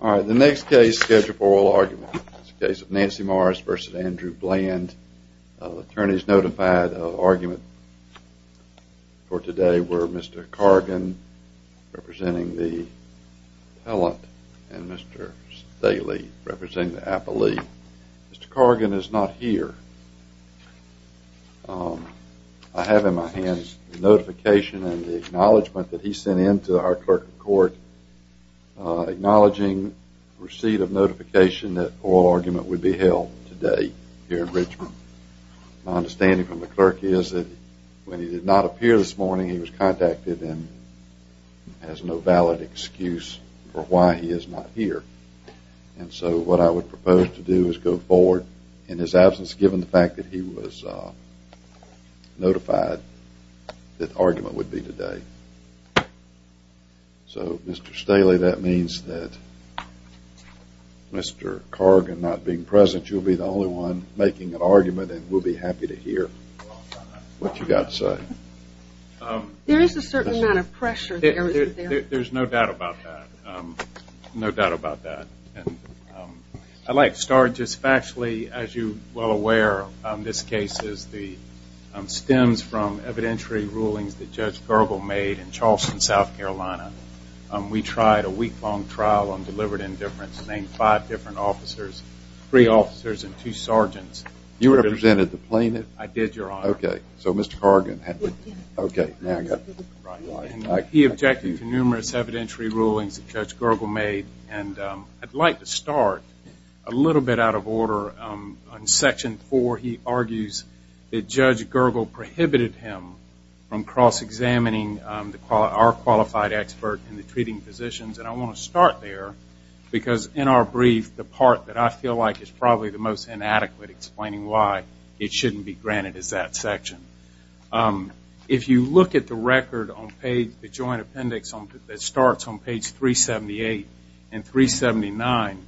Alright, the next case is scheduled for oral argument. It's the case of Nancy Morris v. Andrew Bland. Attorneys notified of argument for today were Mr. Cargan representing the appellant and Mr. Staley representing the appellee. Mr. Cargan is not here. I have in my hands the notification and the acknowledgement that he sent in to our clerk of court acknowledging receipt of notification that oral argument would be held today here in Richmond. My understanding from the clerk is that when he did not appear this morning he was contacted and has no valid excuse for why he is not here. And so what I would propose to do is go forward in his absence given the fact that he was notified that the argument would be today. So Mr. Staley that means that Mr. Cargan not being present you will be the only one making an argument and we will be happy to hear what you have to say. There is a certain amount of pressure. There is no doubt about that. No doubt about that. I would like to start just factually as you are well aware this case stems from evidentiary rulings that Judge Gergel made in Charleston, South Carolina. We tried a week long trial on delivered indifference, named five different officers, three officers and two sergeants. You represented the plaintiff? I did, your honor. Okay, so Mr. Cargan. He objected to numerous evidentiary rulings that Judge Gergel made. I would like to start a little bit out of order on section four. He argues that Judge Gergel prohibited him from cross-examining our qualified expert in the treating physicians. And I want to start there because in our brief the part that I feel like is probably the most inadequate explaining why it shouldn't be granted is that section. If you look at the record on page, the joint appendix that starts on page 378 and 379,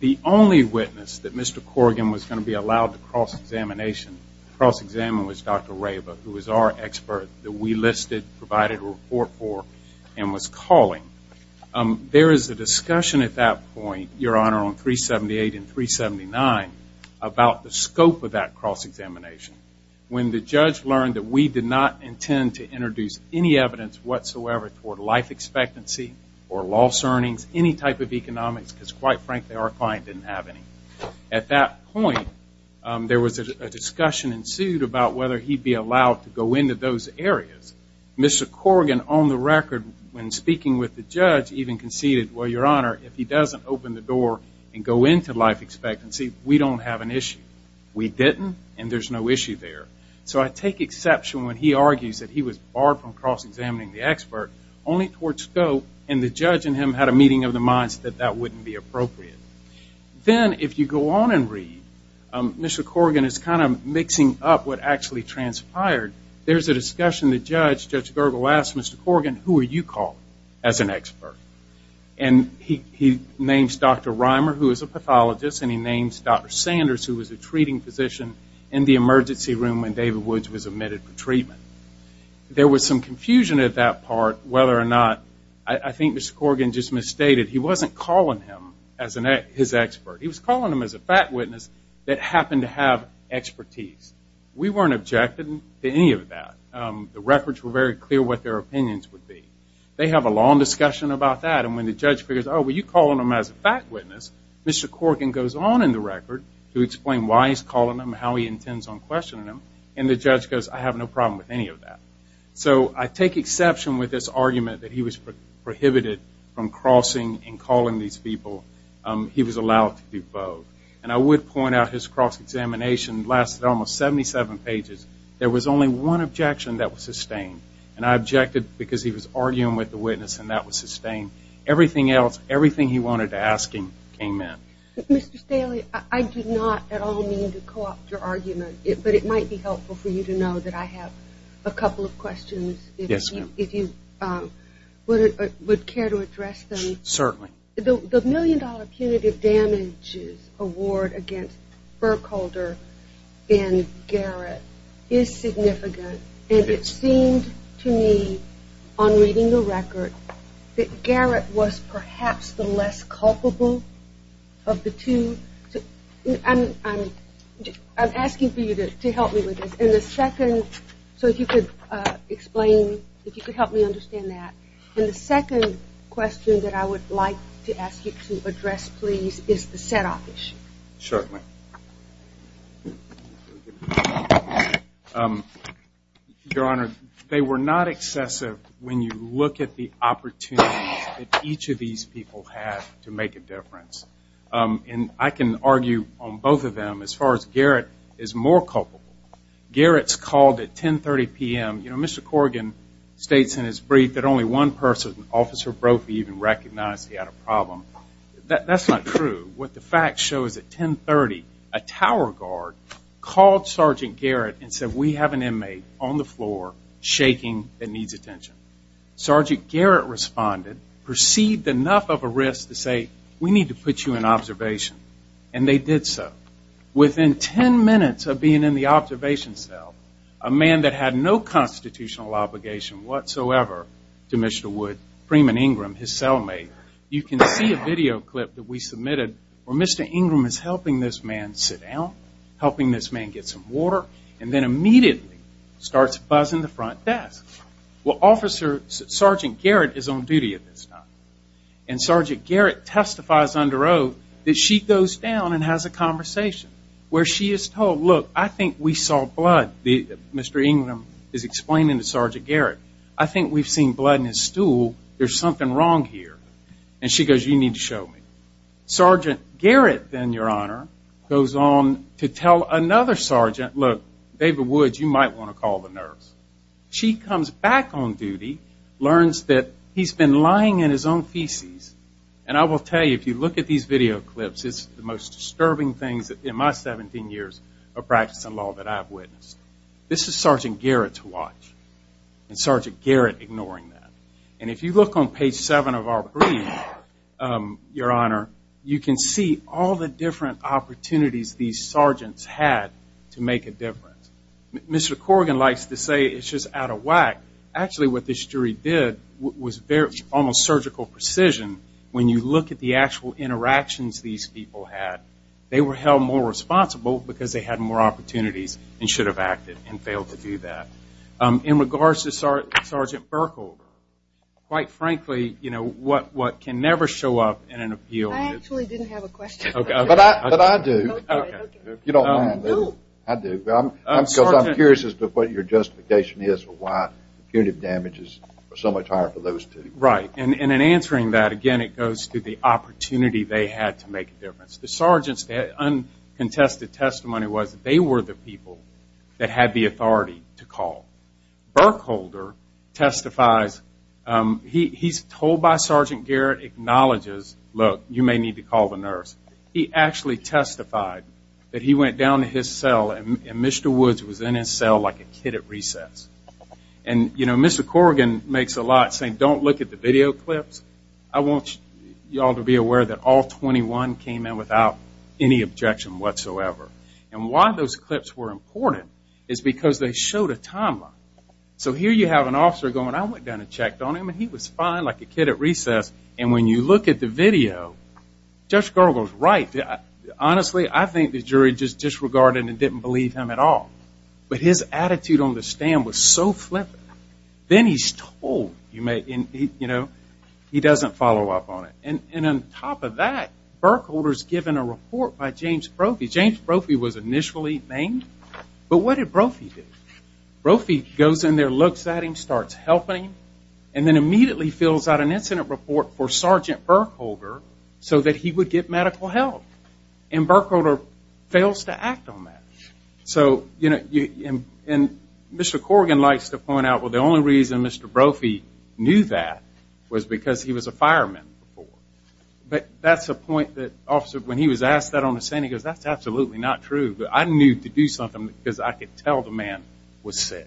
the only witness that Mr. Cargan was going to be allowed to cross-examination, cross-examine, was Dr. Rayba who was our expert that we listed, provided a report for, and was calling. There is a discussion at that point, your honor, on 378 and 379 about the scope of that cross-examination. When the judge learned that we did not intend to introduce any evidence whatsoever for life expectancy or loss earnings, any type of economics because quite frankly our client didn't have any. At that point, there was a discussion ensued about whether he'd be allowed to go into those areas. Mr. Cargan on the record when speaking with the judge even conceded, well, your honor, if he doesn't open the door and go into life expectancy, we don't have an issue. We didn't and there's no issue there. So I take exception when he argues that he was barred from cross-examining the expert only towards scope and the judge and him had a meeting of the minds that that wouldn't be appropriate. Then if you go on and read, Mr. Cargan is kind of mixing up what actually transpired. There's a discussion the judge, Judge Gergel, asked Mr. Cargan, who are you calling as an expert? And he names Dr. Reimer who is a pathologist and he names Dr. Sanders who was a treating physician in the emergency room when David Woods was admitted for treatment. There was some confusion at that part whether or not, I think Mr. Cargan just misstated, he wasn't calling him as his expert. He was calling him as a fact witness that happened to have expertise. We weren't objecting to any of that. The records were very clear what their opinions would be. They have a long discussion about that and when the judge figures, oh, well, you're calling him as a fact witness, Mr. Cargan goes on in the record to explain why he's calling him, how he intends on questioning him, and the judge goes, I have no problem with any of that. So I take exception with this argument that he was prohibited from crossing and calling these people. He was allowed to do both. And I would point out his cross-examination lasted almost 77 pages. There was only one objection that was sustained. And I objected because he was arguing with the witness and that was sustained. Everything else, everything he wanted to ask him came in. Mr. Staley, I do not at all mean to co-opt your argument, but it might be helpful for you to know that I have a couple of questions. Yes, ma'am. If you would care to address them. Certainly. The million-dollar punitive damages award against Burkholder and Garrett is significant. And it seemed to me on reading the record that Garrett was perhaps the less culpable of the two. I'm asking for you to help me with this. So if you could explain, if you could help me understand that. And the second question that I would like to ask you to address, please, is the set-off issue. Certainly. Your Honor, they were not excessive when you look at the opportunities that each of these people had to make a difference. And I can argue on both of them as far as Garrett is more culpable. Garrett's called at 10.30 p.m. You know, Mr. Corrigan states in his brief that only one person, Officer Brophy, even recognized he had a problem. That's not true. What the facts show is at 10.30, a tower guard called Sergeant Garrett and said, we have an inmate on the floor shaking that needs attention. Sergeant Garrett responded, perceived enough of a risk to say, we need to put you in observation. And they did so. Within 10 minutes of being in the observation cell, a man that had no constitutional obligation whatsoever to Mr. Wood, Freeman Ingram, his cellmate, you can see a video clip that we submitted where Mr. Ingram is helping this man sit down, helping this man get some water, and then immediately starts buzzing the front desk. Well, Sergeant Garrett is on duty at this time. And Sergeant Garrett testifies under oath that she goes down and has a conversation where she is told, look, I think we saw blood. Mr. Ingram is explaining to Sergeant Garrett, I think we've seen blood in his stool. There's something wrong here. And she goes, you need to show me. Sergeant Garrett then, Your Honor, goes on to tell another sergeant, look, David Woods, you might want to call the nurse. She comes back on duty, learns that he's been lying in his own feces. And I will tell you, if you look at these video clips, it's the most disturbing things in my 17 years of practice in law that I've witnessed. This is Sergeant Garrett to watch. And Sergeant Garrett ignoring that. And if you look on page 7 of our brief, Your Honor, you can see all the different opportunities these sergeants had to make a difference. Mr. Corrigan likes to say it's just out of whack. Actually, what this jury did was almost surgical precision. When you look at the actual interactions these people had, they were held more responsible because they had more opportunities and should have acted and failed to do that. In regards to Sergeant Burkle, quite frankly, you know, what can never show up in an appeal is – I actually didn't have a question. But I do. Okay. You don't mind. I do. I do. Because I'm curious as to what your justification is for why punitive damage is so much higher for those two. Right. And in answering that, again, it goes to the opportunity they had to make a difference. The sergeant's uncontested testimony was that they were the people that had the authority to call. Burkholder testifies – he's told by Sergeant Garrett, acknowledges, look, you may need to call the nurse. He actually testified that he went down to his cell and Mr. Woods was in his cell like a kid at recess. And, you know, Mr. Corrigan makes a lot saying don't look at the video clips. I want you all to be aware that all 21 came in without any objection whatsoever. And why those clips were important is because they showed a timeline. So here you have an officer going, I went down and checked on him and he was fine like a kid at recess. And when you look at the video, Judge Gergel's right. Honestly, I think the jury just disregarded and didn't believe him at all. But his attitude on the stand was so flippant. Then he's told, you know, he doesn't follow up on it. And on top of that, Burkholder's given a report by James Brophy. James Brophy was initially named. But what did Brophy do? And then immediately fills out an incident report for Sergeant Burkholder so that he would get medical help. And Burkholder fails to act on that. So, you know, and Mr. Corrigan likes to point out, well, the only reason Mr. Brophy knew that was because he was a fireman before. But that's a point that officer, when he was asked that on the stand, he goes, that's absolutely not true. But I knew to do something because I could tell the man was sick.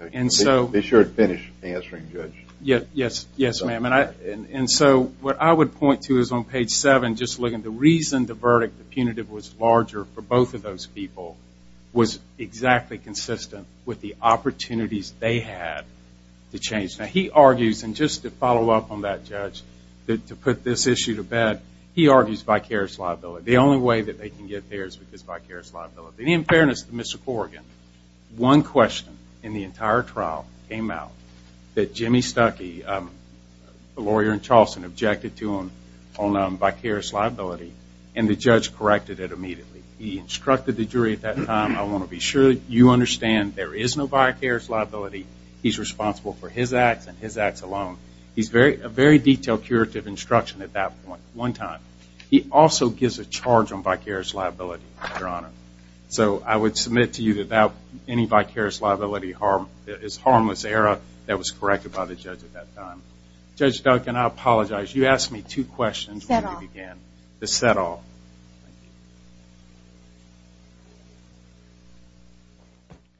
They should finish answering, Judge. Yes, ma'am. And so what I would point to is on page 7, just looking at the reason the verdict, the punitive was larger for both of those people, was exactly consistent with the opportunities they had to change. Now, he argues, and just to follow up on that, Judge, to put this issue to bed, he argues vicarious liability. The only way that they can get there is because vicarious liability. In fairness to Mr. Corrigan, one question in the entire trial came out that Jimmy Stuckey, the lawyer in Charleston, objected to on vicarious liability, and the judge corrected it immediately. He instructed the jury at that time, I want to be sure that you understand there is no vicarious liability. He's responsible for his acts and his acts alone. He's a very detailed, curative instruction at that point, one time. He also gives a charge on vicarious liability, Your Honor. So I would submit to you that any vicarious liability is harmless error that was corrected by the judge at that time. Judge Duncan, I apologize. You asked me two questions when we began. The set-off.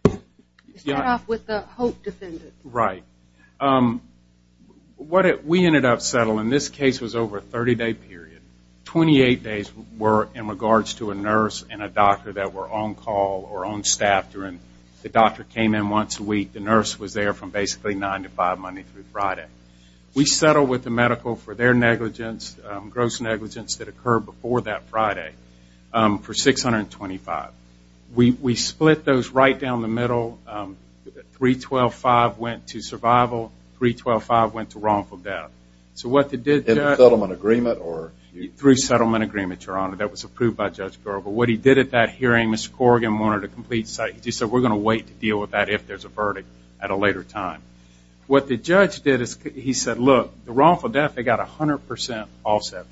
The set-off with the Hope defendant. Right. We ended up settling. This case was over a 30-day period. 28 days were in regards to a nurse and a doctor that were on call or on staff. The doctor came in once a week. The nurse was there from basically 9 to 5 Monday through Friday. We settled with the medical for their negligence, gross negligence that occurred before that Friday for 625. We split those right down the middle. 312.5 went to survival. 312.5 went to wrongful death. In a settlement agreement? Through a settlement agreement, Your Honor, that was approved by Judge Garbo. What he did at that hearing, Mr. Corrigan wanted a complete cite. He said, we're going to wait to deal with that if there's a verdict at a later time. What the judge did is he said, look, the wrongful death they got 100% offset for.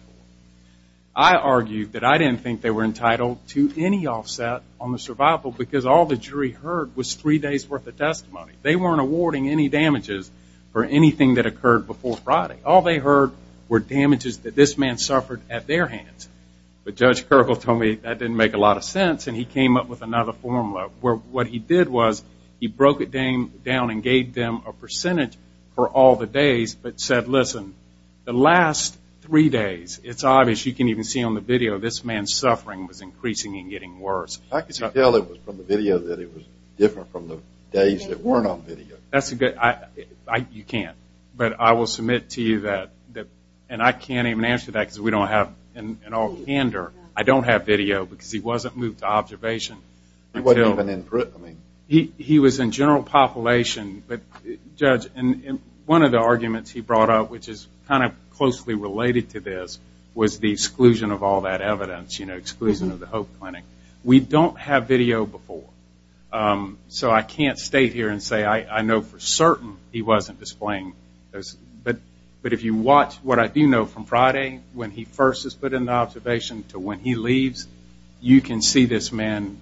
I argued that I didn't think they were entitled to any offset on the survival because all the jury heard was three days' worth of testimony. They weren't awarding any damages for anything that occurred before Friday. All they heard were damages that this man suffered at their hands. But Judge Garbo told me that didn't make a lot of sense, and he came up with another formula. What he did was he broke it down and gave them a percentage for all the days but said, listen, the last three days, it's obvious, you can even see on the video, this man's suffering was increasing and getting worse. I can tell it was from the video that it was different from the days that weren't on video. That's a good, you can't. But I will submit to you that, and I can't even answer that because we don't have, in all candor, I don't have video because he wasn't moved to observation. He wasn't even in prison. He was in general population. But, Judge, one of the arguments he brought up, which is kind of closely related to this, was the exclusion of all that evidence, you know, exclusion of the Hope Clinic. We don't have video before. So I can't state here and say I know for certain he wasn't displaying. But if you watch what I do know from Friday when he first is put into observation to when he leaves, you can see this man's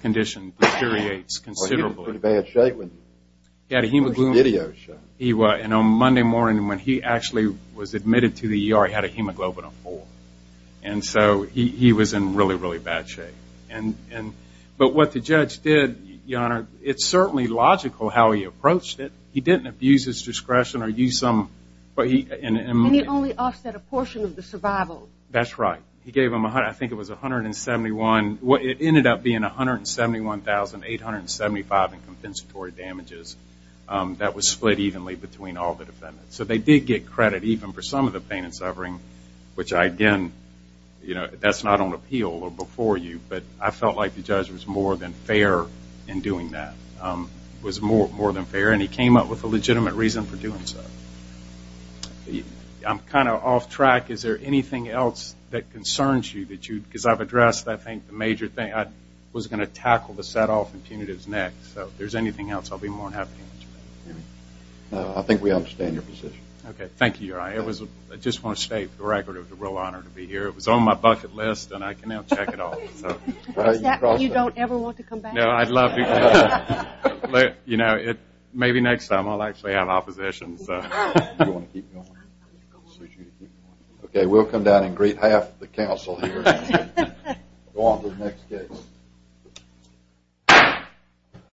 condition deteriorates considerably. Well, he was in pretty bad shape when the video showed. He was. And on Monday morning when he actually was admitted to the ER, he had a hemoglobin of four. And so he was in really, really bad shape. But what the judge did, Your Honor, it's certainly logical how he approached it. He didn't abuse his discretion or use some – And he only offset a portion of the survival. That's right. He gave him, I think it was 171. It ended up being 171,875 in compensatory damages. That was split evenly between all the defendants. So they did get credit even for some of the pain and suffering, which, again, you know, that's not on appeal or before you. But I felt like the judge was more than fair in doing that, was more than fair. And he came up with a legitimate reason for doing so. I'm kind of off track. Is there anything else that concerns you that you – because I've addressed, I think, the major thing. I was going to tackle the set-off and punitives next. So if there's anything else, I'll be more than happy to answer that. I think we understand your position. Okay. Thank you, Your Honor. I just want to state for the record, it was a real honor to be here. It was on my bucket list, and I can now check it off. Is that why you don't ever want to come back? No, I'd love to come back. You know, maybe next time I'll actually have opposition. Do you want to keep going? Okay. We'll come down and greet half the council here. Go on to the next case.